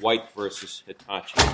White v. Hitachi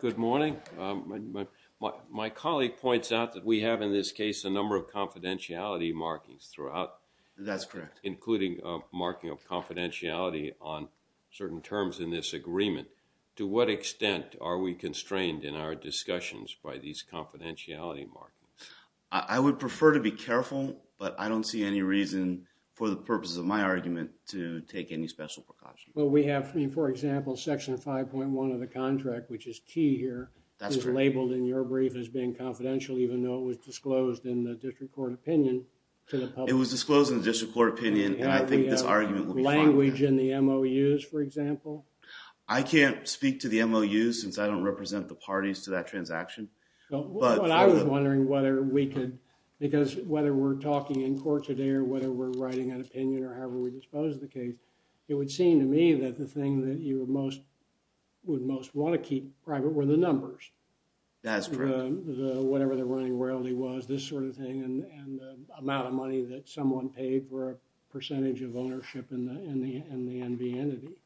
Good morning. My colleague points out that we have in this case a number of confidentiality markings throughout. That's correct. Including a marking of confidentiality on certain terms in this agreement. To what extent are we constrained in our discussions by these confidentiality markings? I would prefer to be careful, but I don't see any reason for the purposes of my argument to take any special precautions. Well, we have, for example, section 5.1 of the contract, which is key here, is labeled in your brief as being confidential, even though it was disclosed in the district court opinion to the public. It was disclosed in the district court opinion, and I think this argument will be fine. Language in the MOUs, for example. I can't speak to the MOUs, since I don't represent the parties to that transaction. But I was wondering whether we could, because whether we're talking in court today or whether we're writing an opinion or however we dispose of the case, it would seem to me that the thing that you most, would most want to keep private were the numbers. That's correct. Whatever the running royalty was, this sort of thing, and the amount of money that someone paid for a percentage of ownership in the, in the, in the NV entity.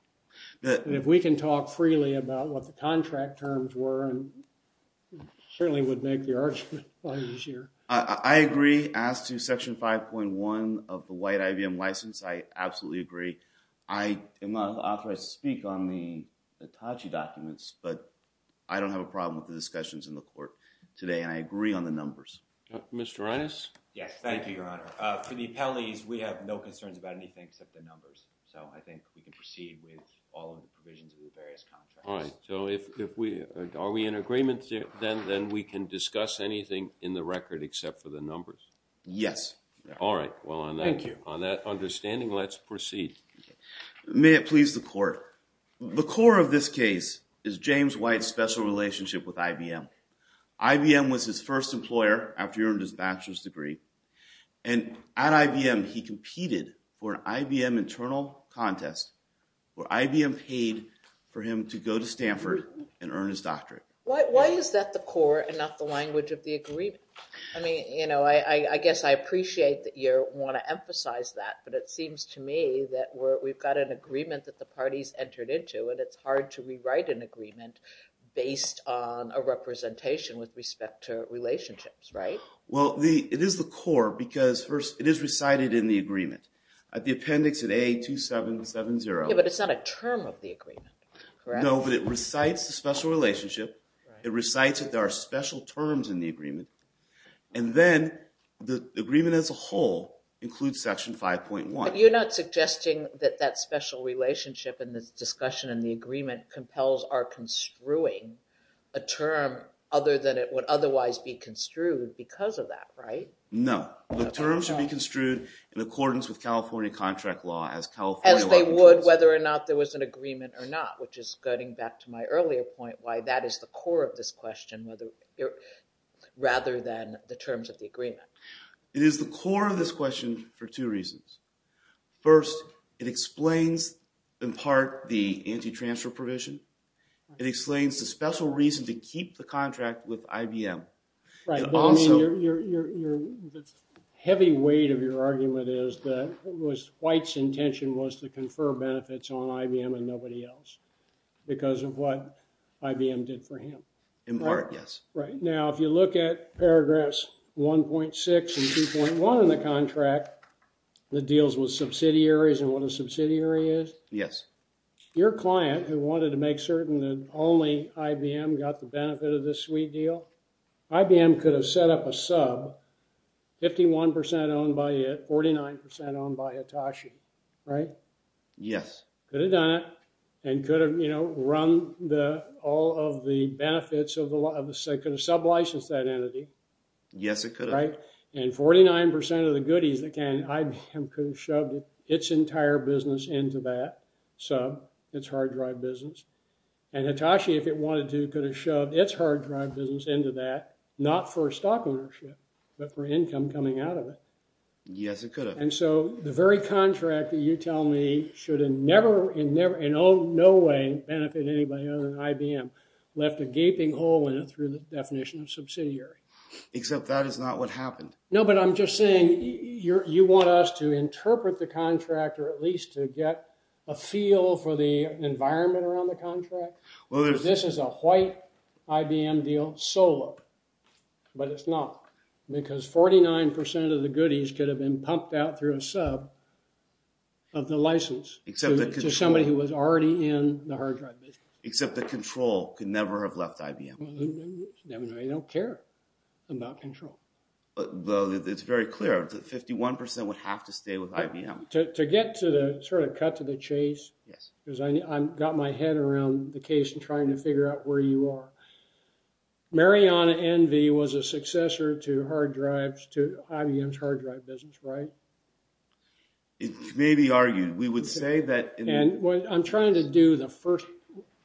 And if we can talk freely about what the contract terms were, it certainly would make the argument a lot easier. I agree. As to section 5.1 of the white IBM license, I absolutely agree. I am authorized to speak on the Hitachi documents, but I don't have a problem with the discussions in the court today, and I agree on the numbers. Mr. Reines? Yes. Thank you, Your Honor. For the appellees, we have no concerns about anything except the numbers. So I think we can proceed with all of the provisions of the various contracts. All right. So if, if we, are we in agreement then, then we can discuss anything in the record except for the numbers? Yes. All right. Well, on that. Thank you. On that understanding, let's proceed. May it please the court, the core of this case is James White's special relationship with IBM. IBM was his first employer after he earned his bachelor's degree, and at IBM he competed for an IBM internal contest where IBM paid for him to go to Stanford and earn his doctorate. Why, why is that the core and not the language of the agreement? I mean, you know, I, I guess I appreciate that you want to emphasize that, but it seems to me that we're, we've got an agreement that the parties entered into, and it's hard to rewrite an agreement based on a representation with respect to relationships, right? Well, the, it is the core because first, it is recited in the agreement at the appendix at A2770. Yeah, but it's not a term of the agreement, correct? No, but it recites the special relationship, it recites that there are special terms in the agreement, and then the agreement as a whole includes section 5.1. But you're not suggesting that that special relationship and this discussion and the agreement compels our construing a term other than it would otherwise be construed because of that, right? No. The terms should be construed in accordance with California contract law as California would. As they would, whether or not there was an agreement or not, which is going back to my earlier point, why that is the core of this question, whether, rather than the terms of the agreement. It is the core of this question for two reasons. First, it explains in part the anti-transfer provision. It explains the special reason to keep the contract with IBM. Right, but I mean, your, the heavy weight of your argument is that it was White's intention was to confer benefits on IBM and nobody else because of what IBM did for him. In part, yes. Right. Now, if you look at paragraphs 1.6 and 2.1 in the contract that deals with subsidiaries and what a subsidiary is, your client who wanted to make certain that only IBM got the benefit of this sweet deal, IBM could have set up a sub, 51% owned by it, 49% owned by Hitachi, right? Yes. Could have done it and could have, you know, run the, all of the benefits of the, could have sub-licensed that entity. Yes, it could have. Right? And 49% of the goodies that can, IBM could have shoved its entire business into that sub, its hard drive business. And Hitachi, if it wanted to, could have shoved its hard drive business into that, not for stock ownership, but for income coming out of it. Yes, it could have. And so, the very contract that you tell me should have never, in no way, benefited anybody other than IBM, left a gaping hole in it through the definition of subsidiary. Except that is not what happened. No, but I'm just saying, you want us to interpret the contract, or at least to get a feel for the environment around the contract? This is a white IBM deal, solo, but it's not. Because 49% of the goodies could have been pumped out through a sub of the license to somebody who was already in the hard drive business. Except that Control could never have left IBM. They don't care about Control. But it's very clear that 51% would have to stay with IBM. To get to the, sort of cut to the chase, because I got my head around the case and trying to figure out where you are. Mariana Envy was a successor to IBM's hard drive business, right? It may be argued. We would say that... I'm trying to do the first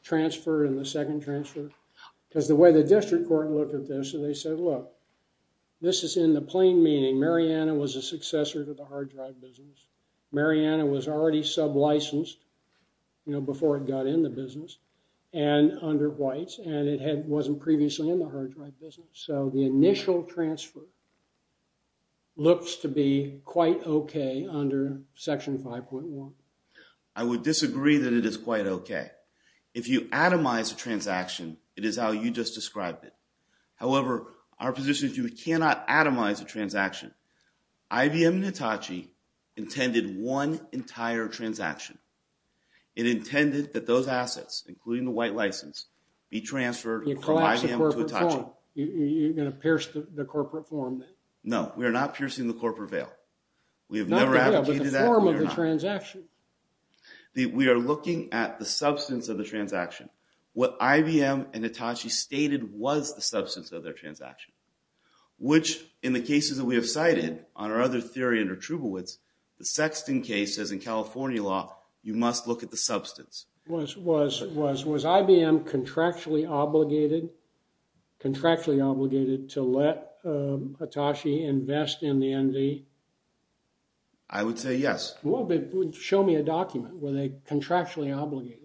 transfer and the second transfer, because the way the district court looked at this, and they said, look, this is in the plain meaning, Mariana was a successor to the hard drive business. Mariana was already sub-licensed, you know, before it got in the business, and under whites, and it wasn't previously in the hard drive business. So the initial transfer looks to be quite okay under section 5.1. I would disagree that it is quite okay. If you atomize a transaction, it is how you just described it. However, our position is you cannot atomize a transaction. IBM and Hitachi intended one entire transaction. It intended that those assets, including the white license, be transferred from IBM to Hitachi. You're going to pierce the corporate form then? No, we are not piercing the corporate veil. We have never advocated that. Not the veil, but the form of the transaction. We are looking at the substance of the transaction. What IBM and Hitachi stated was the substance of their transaction, which in the cases that we have cited on our other theory under Trubowitz, the Sexton case says in California law, you must look at the substance. Was IBM contractually obligated to let Hitachi invest in the NV? I would say yes. Well, show me a document, were they contractually obligated?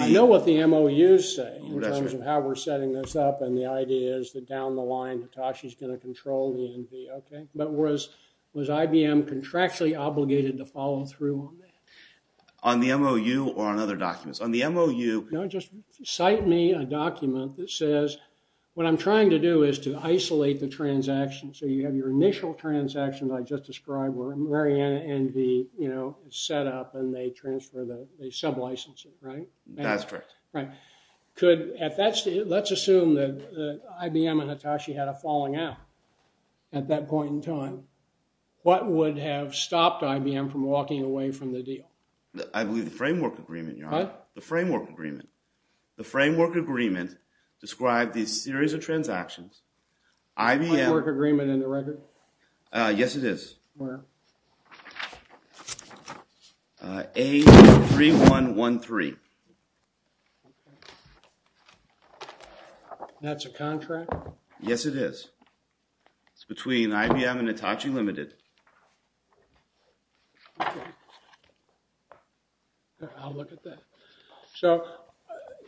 I know what the MOUs say in terms of how we're setting this up, and the idea is that down the line Hitachi's going to control the NV, okay? But was IBM contractually obligated to follow through on that? On the MOU or on other documents? On the MOU... No, just cite me a document that says, what I'm trying to do is to isolate the transaction, so you have your initial transaction that I just described where Mariana NV is set up and they transfer, they sub-license it, right? That's correct. Right. Let's assume that IBM and Hitachi had a falling out at that point in time. What would have stopped IBM from walking away from the deal? I believe the framework agreement, Your Honor. The framework agreement. The framework agreement described these series of transactions. IBM... Framework agreement in the record? Yes, it is. Where? A-2-3-1-1-3. That's a contract? Yes, it is. It's between IBM and Hitachi Limited. Okay. I'll look at that. So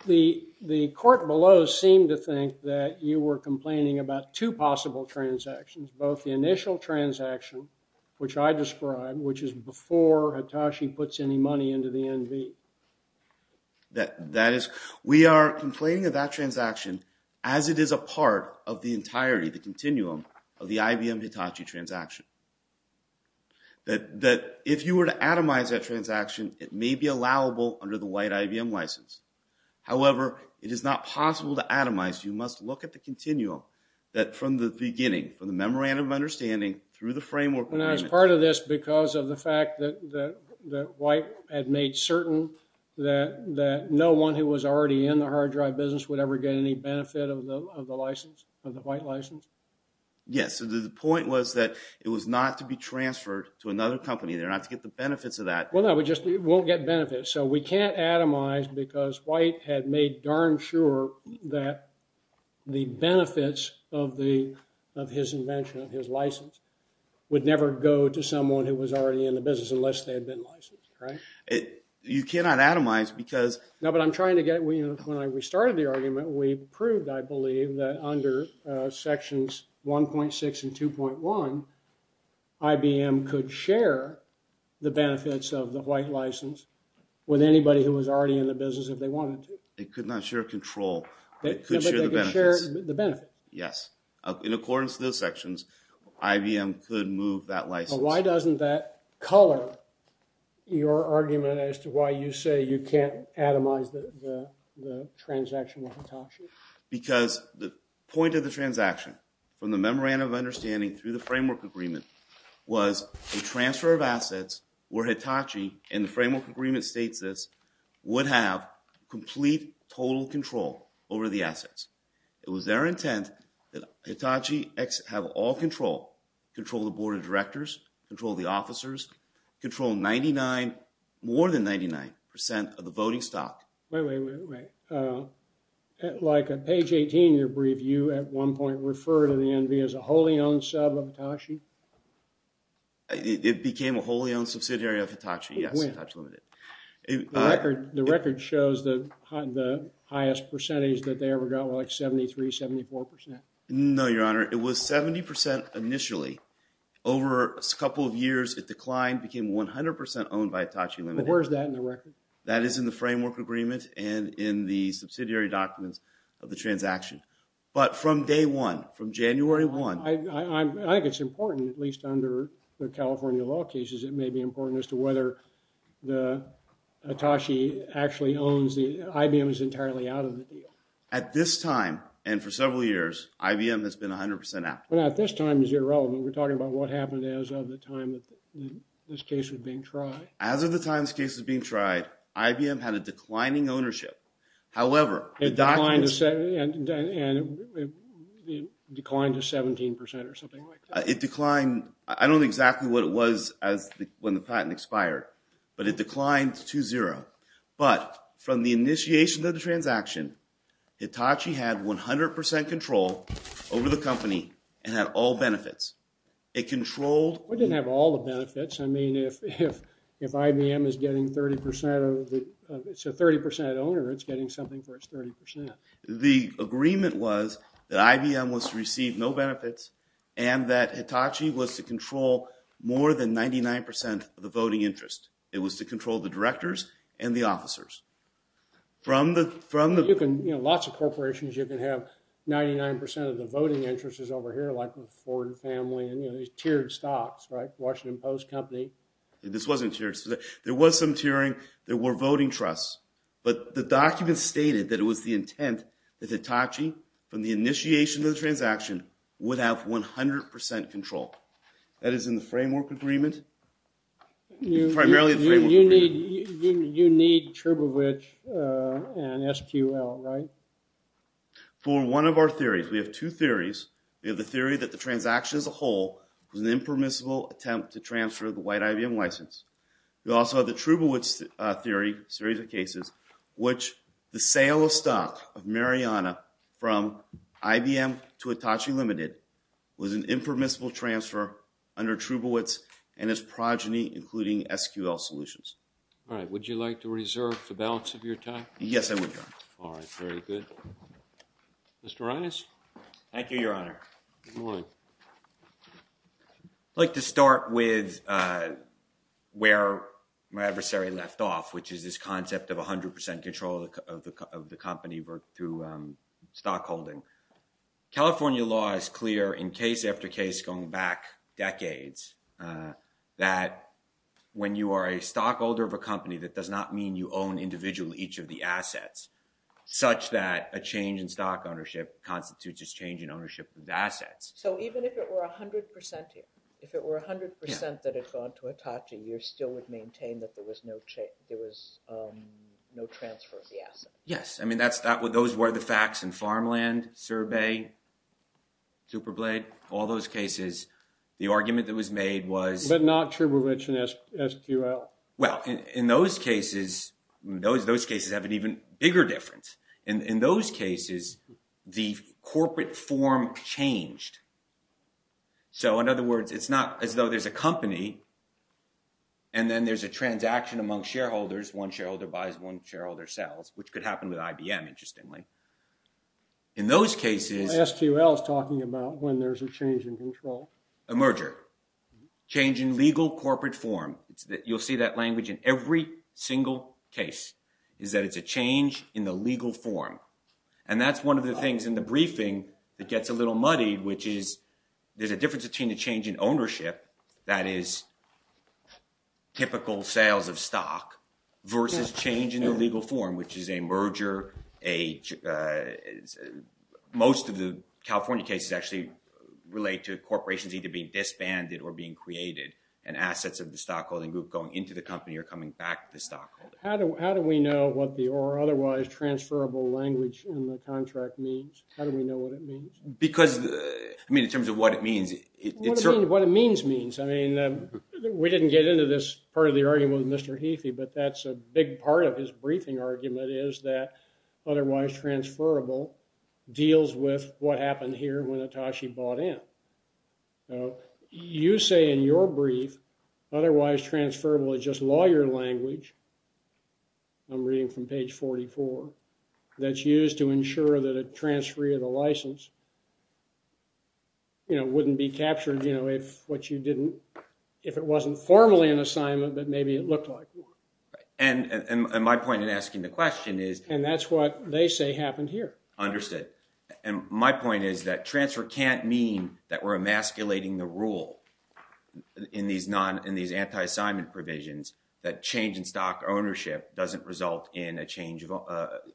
the court below seemed to think that you were complaining about two possible transactions, both the initial transaction, which I described, which is before Hitachi puts any money into the NV. We are complaining of that transaction as it is a part of the entirety, the continuum of the IBM-Hitachi transaction. If you were to atomize that transaction, it may be allowable under the white IBM license. However, it is not possible to atomize. You must look at the continuum that from the beginning, from the memorandum of understanding through the framework agreement... Are we certain that no one who was already in the hard drive business would ever get any benefit of the license, of the white license? Yes. The point was that it was not to be transferred to another company. They're not to get the benefits of that. Well, no. We just won't get benefits. So we can't atomize because White had made darn sure that the benefits of his invention, of his license, would never go to someone who was already in the business unless they had been licensed, right? You cannot atomize because... No, but I'm trying to get... When I restarted the argument, we proved, I believe, that under sections 1.6 and 2.1, IBM could share the benefits of the white license with anybody who was already in the business if they wanted to. They could not share control. They could share the benefits. They could share the benefits. Yes. In accordance to those sections, IBM could move that license. Why doesn't that color your argument as to why you say you can't atomize the transaction with Hitachi? Because the point of the transaction, from the memorandum of understanding through the framework agreement, was a transfer of assets where Hitachi, and the framework agreement states this, would have complete total control over the assets. It was their intent that Hitachi have all control, control the board of directors, control the officers, control 99, more than 99 percent of the voting stock. Wait, wait, wait, wait. Like at page 18 of your brief, you at one point referred to the NV as a wholly owned sub of Hitachi. It became a wholly owned subsidiary of Hitachi, yes, Hitachi Limited. The record shows the highest percentage that they ever got, like 73, 74 percent. No, your honor. It was 70 percent initially. Over a couple of years, it declined, became 100 percent owned by Hitachi Limited. But where's that in the record? That is in the framework agreement and in the subsidiary documents of the transaction. But from day one, from January one. I think it's important, at least under the California law cases, it may be important as to whether the Hitachi actually owns the, IBM is entirely out of the deal. At this time, and for several years, IBM has been 100 percent out. Well, at this time is irrelevant. We're talking about what happened as of the time that this case was being tried. As of the time this case was being tried, IBM had a declining ownership. However, the documents. It declined to 17 percent or something like that. It declined. I don't know exactly what it was when the patent expired, but it declined to zero. But from the initiation of the transaction, Hitachi had 100 percent control over the company and had all benefits. It controlled. It didn't have all the benefits. I mean, if IBM is getting 30 percent of the, it's a 30 percent owner, it's getting something for its 30 percent. The agreement was that IBM was to receive no benefits and that Hitachi was to control more than 99 percent of the voting interest. It was to control the directors and the officers. From the- You can, you know, lots of corporations, you can have 99 percent of the voting interest is over here, like the Ford family and, you know, these tiered stocks, right? Washington Post Company. This wasn't tiered. There was some tiering. There were voting trusts. But the document stated that it was the intent that Hitachi, from the initiation of the transaction, would have 100 percent control. That is in the framework agreement, primarily the framework agreement. You need Trubowitz and SQL, right? For one of our theories, we have two theories. We have the theory that the transaction as a whole was an impermissible attempt to transfer the white IBM license. We also have the Trubowitz theory, a series of cases, which the sale of stock of Mariana from IBM to Hitachi Limited was an impermissible transfer under Trubowitz and its progeny, including SQL Solutions. All right. Would you like to reserve the balance of your time? Yes, I would, Your Honor. All right. Very good. Mr. Reines? Thank you, Your Honor. Good morning. I'd like to start with where my adversary left off, which is this concept of 100 percent control of the company through stockholding. California law is clear in case after case, going back decades, that when you are a stockholder of a company, that does not mean you own individually each of the assets, such that a change in So even if it were 100 percent here, if it were 100 percent that had gone to Hitachi, you still would maintain that there was no transfer of the asset? Yes. I mean, those were the facts in Farmland, Surbay, Superblade, all those cases. The argument that was made was— But not Trubowitz and SQL. Well, in those cases, those cases have an even bigger difference. In those cases, the corporate form changed. So in other words, it's not as though there's a company, and then there's a transaction among shareholders. One shareholder buys, one shareholder sells, which could happen with IBM, interestingly. In those cases— SQL is talking about when there's a change in control. A merger. Change in legal corporate form. You'll see that language in every single case, is that it's a change in the legal form. And that's one of the things in the briefing that gets a little muddy, which is there's a difference between a change in ownership, that is typical sales of stock, versus change in the legal form, which is a merger. Most of the California cases actually relate to corporations either being disbanded or being created, and assets of the stockholding group going into the company or coming back to the stockholder. How do we know what the or otherwise transferable language in the contract means? How do we know what it means? Because— I mean, in terms of what it means, it's— What it means means. I mean, we didn't get into this part of the argument with Mr. Heathie, but that's a big part of his briefing argument, is that otherwise transferable deals with what happened here when Atashi bought in. So, you say in your brief, otherwise transferable is just lawyer language, I'm reading from page 44, that's used to ensure that a transferee of the license, you know, wouldn't be captured, you know, if what you didn't— if it wasn't formally an assignment, but maybe it looked like one. Right. And my point in asking the question is— And that's what they say happened here. Understood. And my point is that transfer can't mean that we're emasculating the rule in these non— in these anti-assignment provisions, that change in stock ownership doesn't result in a change of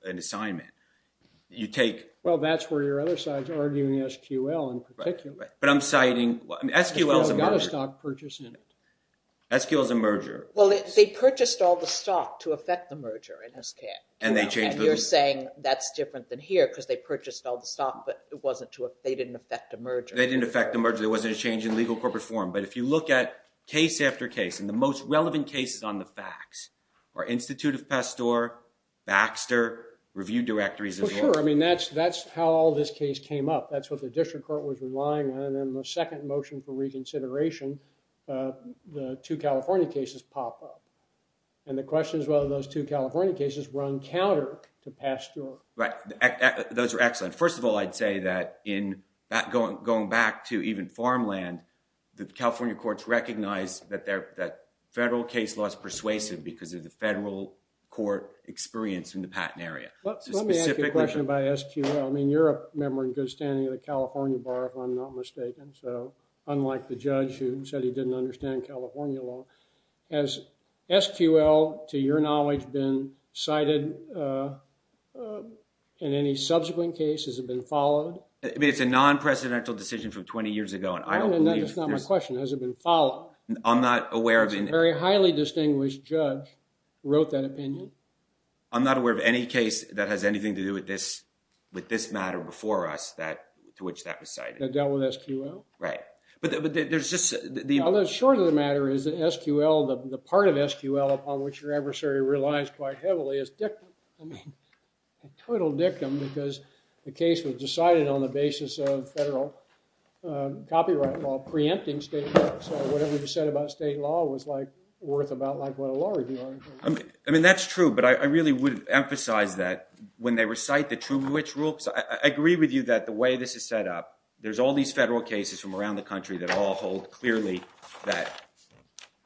an assignment. You take— Well, that's where your other side's arguing SQL in particular. Right. But I'm citing— SQL's a merger. SQL's got a stock purchase in it. SQL's a merger. Well, they purchased all the stock to affect the merger in SCAT. And they changed the— And you're saying that's different than here, because they purchased all the stock, but it wasn't to— they didn't affect a merger. They didn't affect a merger. There wasn't a change in legal corporate form. But if you look at case after case, and the most relevant cases on the facts are Institute of Pasteur, Baxter, Review Directories, as well. For sure. I mean, that's how all this case came up. That's what the district court was relying on. And then the second motion for reconsideration, the two California cases pop up. And the question is whether those two California cases run counter to Pasteur. Right. Those are excellent. First of all, I'd say that in going back to even farmland, the California courts recognize that federal case law is persuasive because of the federal court experience in the Patton area. So specifically— Let me ask you a question about SQL. I mean, you're a member in good standing of the California Bar, if I'm not mistaken. So, unlike the judge who said he didn't understand California law, has SQL, to your knowledge, been cited in any subsequent cases, has it been followed? I mean, it's a non-presidential decision from twenty years ago and I don't believe— That's not my question. Has it been followed? I'm not aware of— A very highly distinguished judge wrote that opinion. I'm not aware of any case that has anything to do with this matter before us to which that was cited. That dealt with SQL? Right. But there's just— The short of the matter is that SQL, the part of SQL upon which your adversary relies quite heavily is dictum. I mean, a total dictum because the case was decided on the basis of federal copyright law preempting state law. So, whatever you said about state law was like worth about like what a law reviewer would do. I mean, that's true, but I really would emphasize that when they recite the true which rule— I agree with you that the way this is set up, there's all these federal cases from around the country that all hold clearly that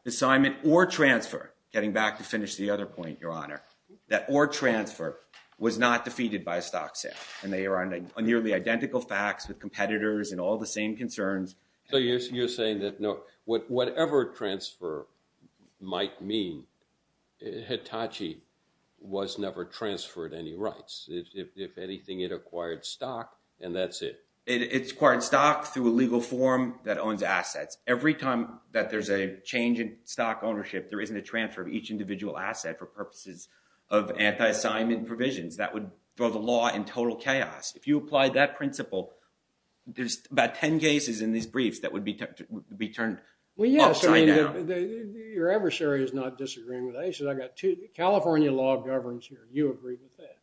assignment or transfer—getting back to finish the other point, Your Honor—that or transfer was not defeated by a stock sale and they are on a nearly identical facts with competitors and all the same concerns. So, you're saying that whatever transfer might mean, Hitachi was never transferred any rights. If anything, it acquired stock and that's it. It's acquired stock through a legal form that owns assets. Every time that there's a change in stock ownership, there isn't a transfer of each individual asset for purposes of anti-assignment provisions. That would throw the law in total chaos. If you apply that principle, there's about 10 cases in these briefs that would be turned upside down. Well, yes. I mean, your adversary is not disagreeing with that. He says, I got two—California law governs here. You agree with that?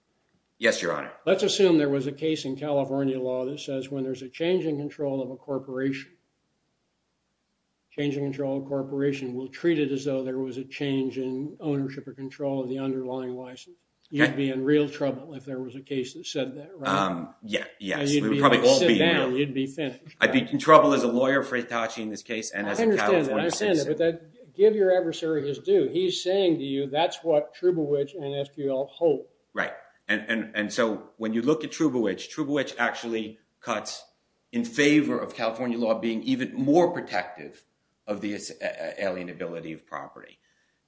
Yes, Your Honor. Let's assume there was a case in California law that says when there's a change in control of a corporation, change in control of a corporation, we'll treat it as though there was a change in ownership or control of the underlying license. Okay. You'd be in real trouble if there was a case that said that, right? Yes. We'd probably all be now. You'd be finished. I'd be in trouble as a lawyer for Hitachi in this case and as a Californian citizen. I understand that. I understand that. But give your adversary his due. He's saying to you, that's what Trubowich and FQL hope. Right. And so when you look at Trubowich, Trubowich actually cuts in favor of California law being even more protective of the alienability of property.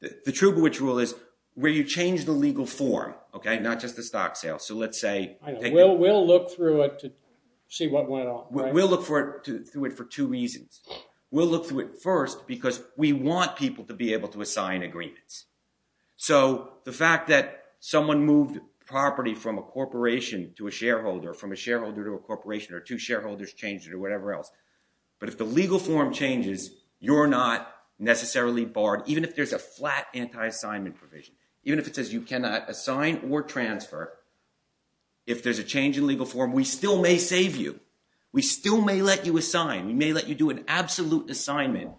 The Trubowich rule is where you change the legal form, okay, not just the stock sale. So let's say— I know. We'll look through it to see what went on, right? We'll look through it for two reasons. We'll look through it first because we want people to be able to assign agreements. So the fact that someone moved property from a corporation to a shareholder, from a shareholder to a corporation, or two shareholders changed it or whatever else. But if the legal form changes, you're not necessarily barred even if there's a flat anti-assignment provision, even if it says you cannot assign or transfer. If there's a change in legal form, we still may save you. We still may let you assign. We may let you do an absolute assignment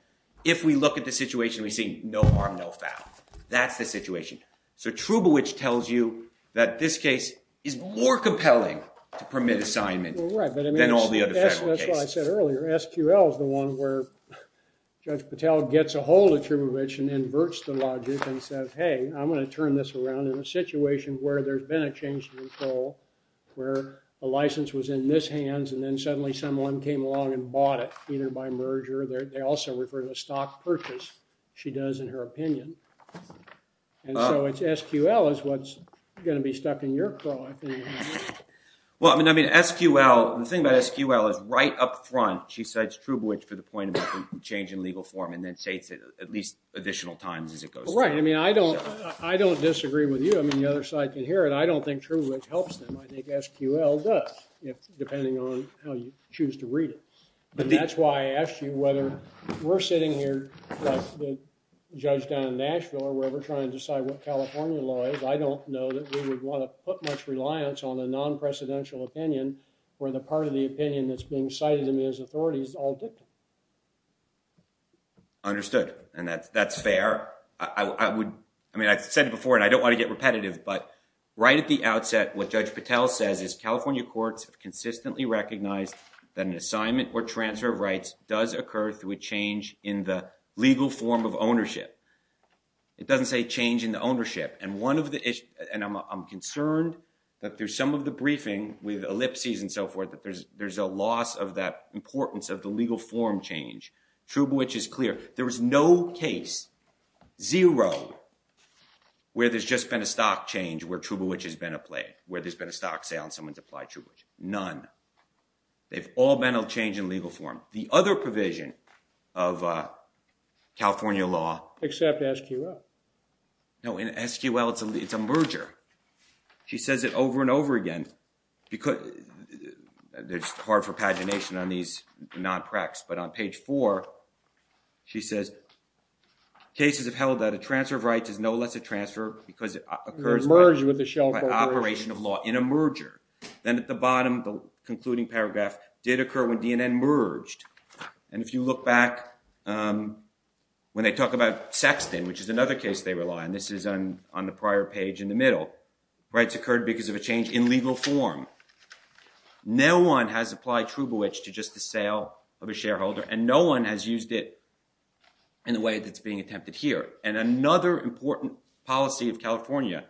if we look at the situation and we see no harm, no foul. That's the situation. So Trubowich tells you that this case is more compelling to permit assignment than all the other federal cases. That's what I said earlier. SQL is the one where Judge Patel gets a hold of Trubowich and inverts the logic and says, hey, I'm going to turn this around in a situation where there's been a change in legal form. And they're going to buy it, either by merger. They also refer to a stock purchase, she does, in her opinion. And so it's SQL is what's going to be stuck in your craw. Well, I mean, SQL, the thing about SQL is right up front, she cites Trubowich for the point about the change in legal form and then states it at least additional times as it goes through. Right. I mean, I don't disagree with you. I mean, the other side can hear it. I don't think Trubowich helps them. I think SQL does, depending on how you choose to read it. But that's why I asked you whether we're sitting here, like the judge down in Nashville, or we're ever trying to decide what California law is. I don't know that we would want to put much reliance on a non-precedential opinion where the part of the opinion that's being cited in these authorities is all dictated. Understood. And that's fair. I would, I mean, I've said it before, and I don't want to get repetitive, but right at the outset, what Judge Patel says is California courts have consistently recognized that an assignment or transfer of rights does occur through a change in the legal form of ownership. It doesn't say change in the ownership. And one of the issues, and I'm concerned that through some of the briefing with ellipses and so forth, that there's a loss of that importance of the legal form change. Trubowich is clear. There is no case, zero, where there's just been a stock change where Trubowich has been applied, where there's been a stock sale and someone's applied Trubowich. None. They've all been a change in legal form. The other provision of California law- Except SQL. No, in SQL, it's a merger. She says it over and over again, because it's hard for pagination on these non-precs, but on page four, she says, cases have held that a transfer of rights is no less a transfer because it occurs by operation of law in a merger. Then at the bottom, the concluding paragraph, did occur when DNN merged. And if you look back, when they talk about Sexton, which is another case they rely on, this is on the prior page in the middle, rights occurred because of a change in legal form. No one has applied Trubowich to just the sale of a shareholder, and no one has used it in the way that's being attempted here. And another important policy of California,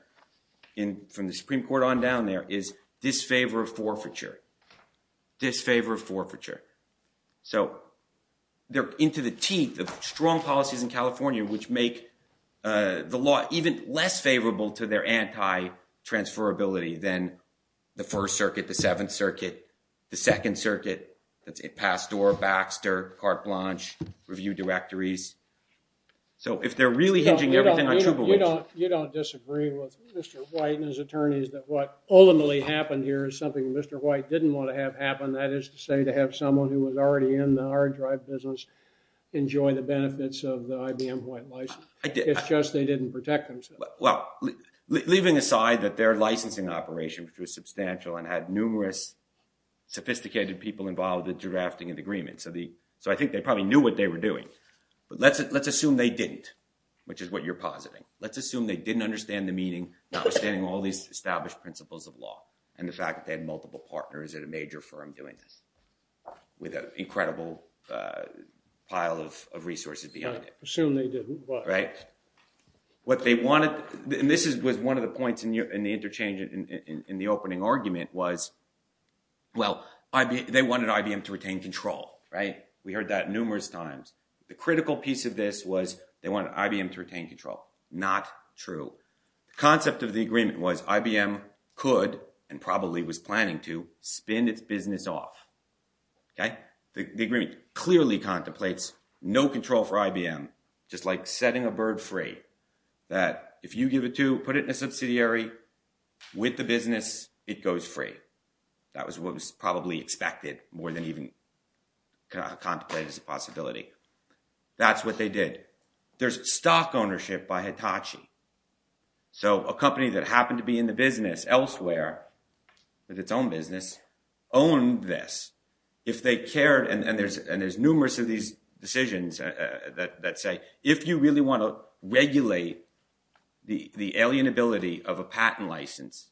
from the Supreme Court on down there, is disfavor of forfeiture, disfavor of forfeiture. So they're into the teeth of strong policies in California, which make the law even less transferability than the First Circuit, the Seventh Circuit, the Second Circuit, that's it, Pasteur, Baxter, Carte Blanche, review directories. So if they're really hinging everything on Trubowich- You don't disagree with Mr. White and his attorneys that what ultimately happened here is something Mr. White didn't want to have happen. That is to say, to have someone who was already in the hard drive business enjoy the benefits of the IBM White license. It's just they didn't protect themselves. Well, leaving aside that their licensing operation, which was substantial and had numerous sophisticated people involved in drafting an agreement, so I think they probably knew what they were doing, but let's assume they didn't, which is what you're positing. Let's assume they didn't understand the meaning, not understanding all these established principles of law, and the fact that they had multiple partners at a major firm doing this, with an incredible pile of resources behind it. Assume they didn't, why? Right? What they wanted, and this was one of the points in the interchange in the opening argument was, well, they wanted IBM to retain control, right? We heard that numerous times. The critical piece of this was they wanted IBM to retain control. Not true. The concept of the agreement was IBM could, and probably was planning to, spin its business off, okay? The agreement clearly contemplates no control for IBM, just like setting a bird free, that if you give it to, put it in a subsidiary with the business, it goes free. That was what was probably expected more than even contemplated as a possibility. That's what they did. There's stock ownership by Hitachi. So a company that happened to be in the business elsewhere, with its own business, owned this. If they cared, and there's numerous of these decisions that say, if you really want to regulate the alienability of a patent license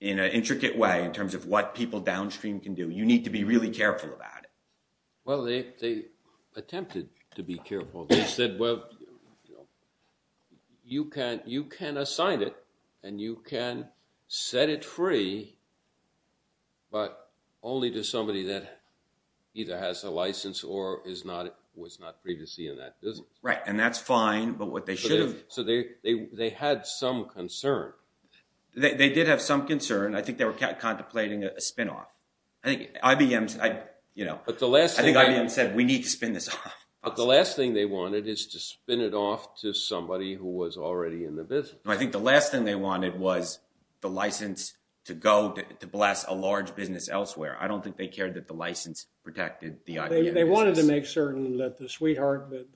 in an intricate way, in terms of what people downstream can do, you need to be really careful about it. Well, they attempted to be careful. They said, well, you can assign it, and you can set it free, but only to somebody that either has a license or was not previously in that business. Right. And that's fine, but what they should have- So they had some concern. They did have some concern. I think they were contemplating a spin off. I think IBM said, we need to spin this off. But the last thing they wanted is to spin it off to somebody who was already in the business. I think the last thing they wanted was the license to go to blast a large business elsewhere. I don't think they cared that the license protected the IBM business. They wanted to make certain that the sweetheart, the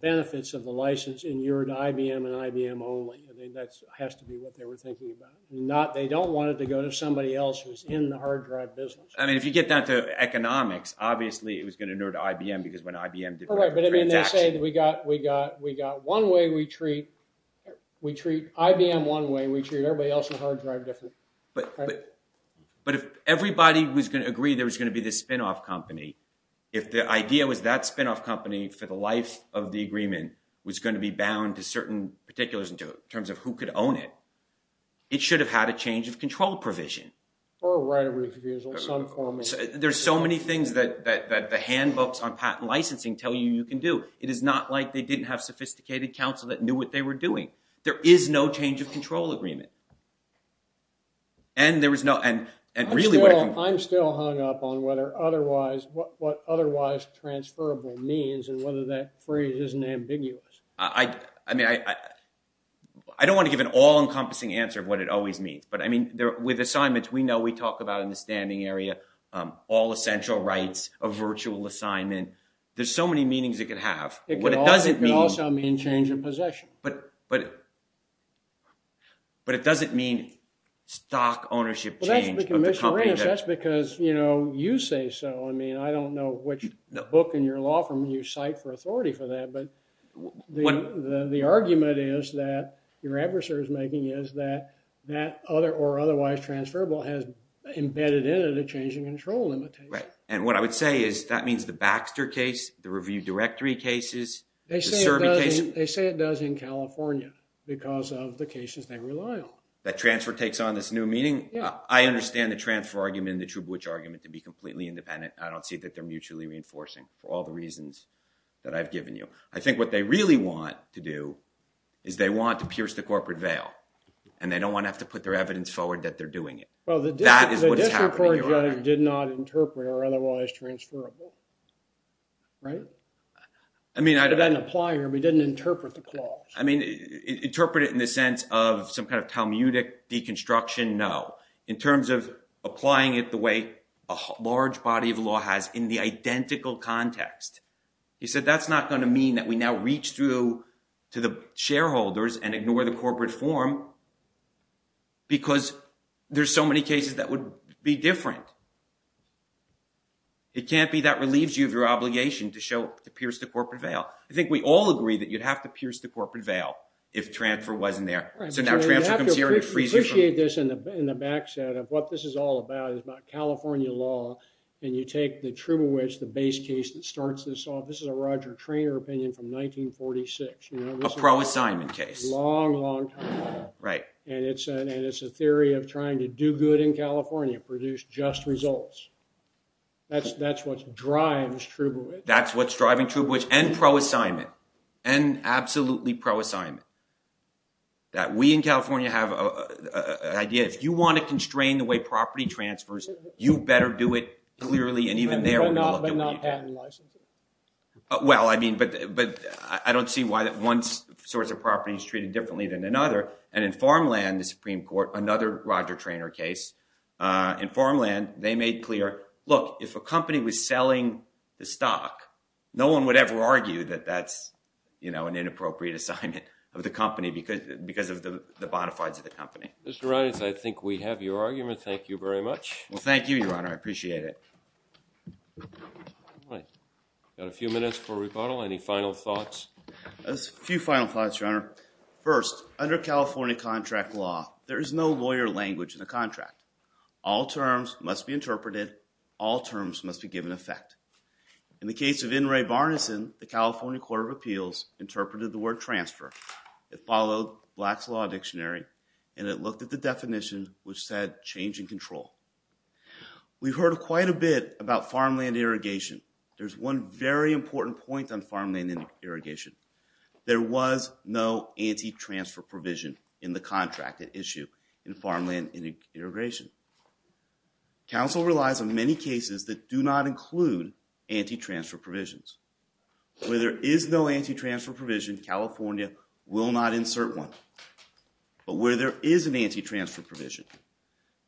benefits of the license inured IBM and IBM only. That has to be what they were thinking about. They don't want it to go to somebody else who's in the hard drive business. I mean, if you get down to economics, obviously, it was going to inure to IBM, because when they say that we got one way we treat, we treat IBM one way, we treat everybody else in hard drive different. But if everybody was going to agree there was going to be this spin off company, if the idea was that spin off company for the life of the agreement was going to be bound to certain particulars in terms of who could own it, it should have had a change of control provision. Or a right of refusal, some form of- There's so many things that the handbooks on patent licensing tell you you can do. It is not like they didn't have sophisticated counsel that knew what they were doing. There is no change of control agreement. And there was no- I'm still hung up on what otherwise transferable means and whether that phrase isn't ambiguous. I don't want to give an all-encompassing answer of what it always means. I mean, with assignments, we know we talk about in the standing area, all essential rights of virtual assignment. There's so many meanings it could have. It could also mean change in possession. But it doesn't mean stock ownership change of the company. That's because you say so. I mean, I don't know which book in your law firm you cite for authority for that. But the argument is that your adversary is making is that that other or otherwise transferable has embedded in it a change in control limitation. Right. And what I would say is that means the Baxter case, the review directory cases, the Serbi case- They say it does in California because of the cases they rely on. That transfer takes on this new meaning. I understand the transfer argument and the Trubowitz argument to be completely independent. I don't see that they're mutually reinforcing for all the reasons that I've given you. I think what they really want to do is they want to pierce the corporate veil and they don't want to have to put their evidence forward that they're doing it. Well, the district court judge did not interpret or otherwise transferable. Right. I mean, I- It didn't apply here. We didn't interpret the clause. I mean, interpret it in the sense of some kind of Talmudic deconstruction. No. In terms of applying it the way a large body of law has in the identical context. He said that's not going to mean that we now reach through to the shareholders and ignore the corporate form because there's so many cases that would be different. It can't be that relieves you of your obligation to show, to pierce the corporate veil. I think we all agree that you'd have to pierce the corporate veil if transfer wasn't there. Right. So now transfer comes here and it frees you from- You have to appreciate this in the backset of what this is all about. It's about California law and you take the Trubowitz, the base case that starts this off. This is a Roger Traynor opinion from 1946. You know- A pro-assignment case. Long, long time ago. Right. And it's a theory of trying to do good in California, produce just results. That's what drives Trubowitz. That's what's driving Trubowitz and pro-assignment and absolutely pro-assignment. That we in California have an idea. If you want to constrain the way property transfers, you better do it clearly. And even there- But not patent licensing. Well, I mean, but I don't see why that one source of property is treated differently than another. And in farmland, the Supreme Court, another Roger Traynor case, in farmland, they made clear, look, if a company was selling the stock, no one would ever argue that that's an inappropriate assignment of the company because of the bona fides of the company. Mr. Reines, I think we have your argument. Thank you very much. Well, thank you, Your Honor. I appreciate it. All right. Got a few minutes for rebuttal. Any final thoughts? Just a few final thoughts, Your Honor. First, under California contract law, there is no lawyer language in the contract. All terms must be interpreted. All terms must be given effect. In the case of In re Barnison, the California Court of Appeals interpreted the word transfer. It followed Black's Law Dictionary. And it looked at the definition, which said change in control. We've heard quite a bit about farmland irrigation. There's one very important point on farmland irrigation. There was no anti-transfer provision in the contract at issue in farmland irrigation. Council relies on many cases that do not include anti-transfer provisions. Where there is no anti-transfer provision, California will not insert one. But where there is an anti-transfer provision,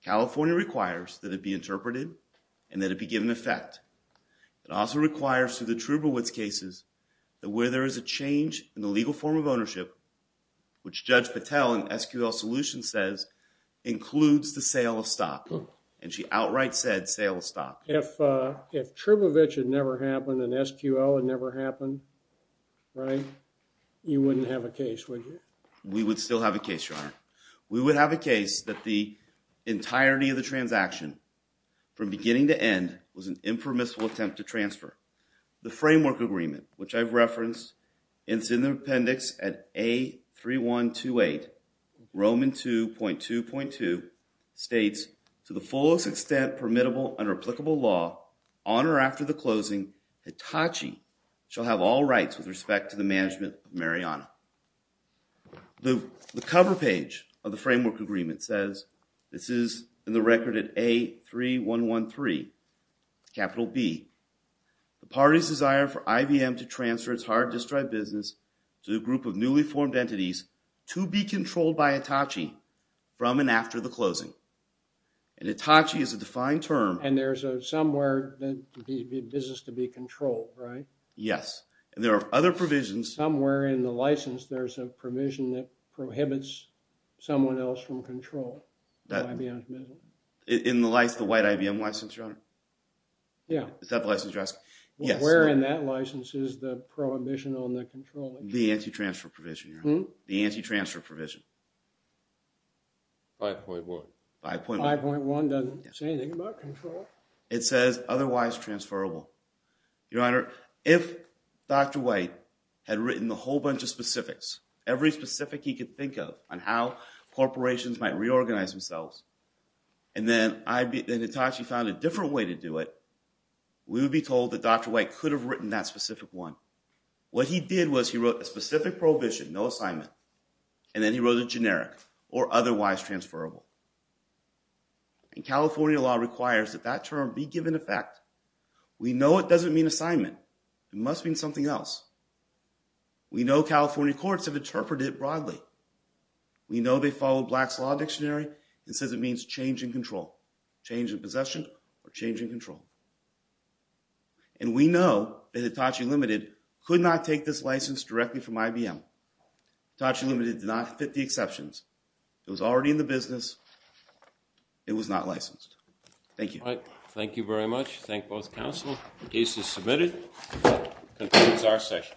California requires that it be interpreted and that it be given effect. It also requires, through the Trubowitz cases, that where there is a change in the legal form of ownership, which Judge Patel in SQL Solutions says includes the sale of stock. And she outright said sale of stock. If Trubowitz had never happened and SQL had never happened, right, you wouldn't have a case, would you? We would still have a case, Your Honor. We would have a case that the entirety of the transaction, from beginning to end, was an impermissible attempt to transfer. The framework agreement, which I've referenced, and it's in the appendix at A3128, Roman 2.2.2 states, to the fullest extent permittable under applicable law, on or after the closing, Hitachi shall have all rights with respect to the management of Mariana. The cover page of the framework agreement says, this is in the record at A3113, capital B, the party's desire for IBM to transfer its hard disk drive business to a group of newly formed entities, to be controlled by Hitachi from and after the closing. And Hitachi is a defined term. And there's a somewhere business to be controlled, right? Yes. And there are other provisions. Somewhere in the license, there's a provision that prohibits someone else from control. In the license, the white IBM license, Your Honor? Yeah. Is that the license you're asking? Yes. Where in that license is the prohibition on the control? The anti-transfer provision, Your Honor. The anti-transfer provision. 5.1. 5.1. 5.1 doesn't say anything about control. It says otherwise transferable. Your Honor, if Dr. White had written a whole bunch of specifics, every specific he could think of on how corporations might reorganize themselves, and then Hitachi found a different way to do it, we would be told that Dr. White could have written that specific one. What he did was he wrote a specific prohibition, no assignment, and then he wrote a generic, or otherwise transferable. And California law requires that that term be given effect. We know it doesn't mean assignment. It must mean something else. We know California courts have interpreted it broadly. We know they follow Black's Law Dictionary. It says it means change in control, change of possession, or change in control. And we know that Hitachi Limited could not take this license directly from IBM. Hitachi Limited did not fit the exceptions. It was already in the business. It was not licensed. Thank you. All right. Thank you very much. Thank both counsel. The case is submitted. Concludes our session.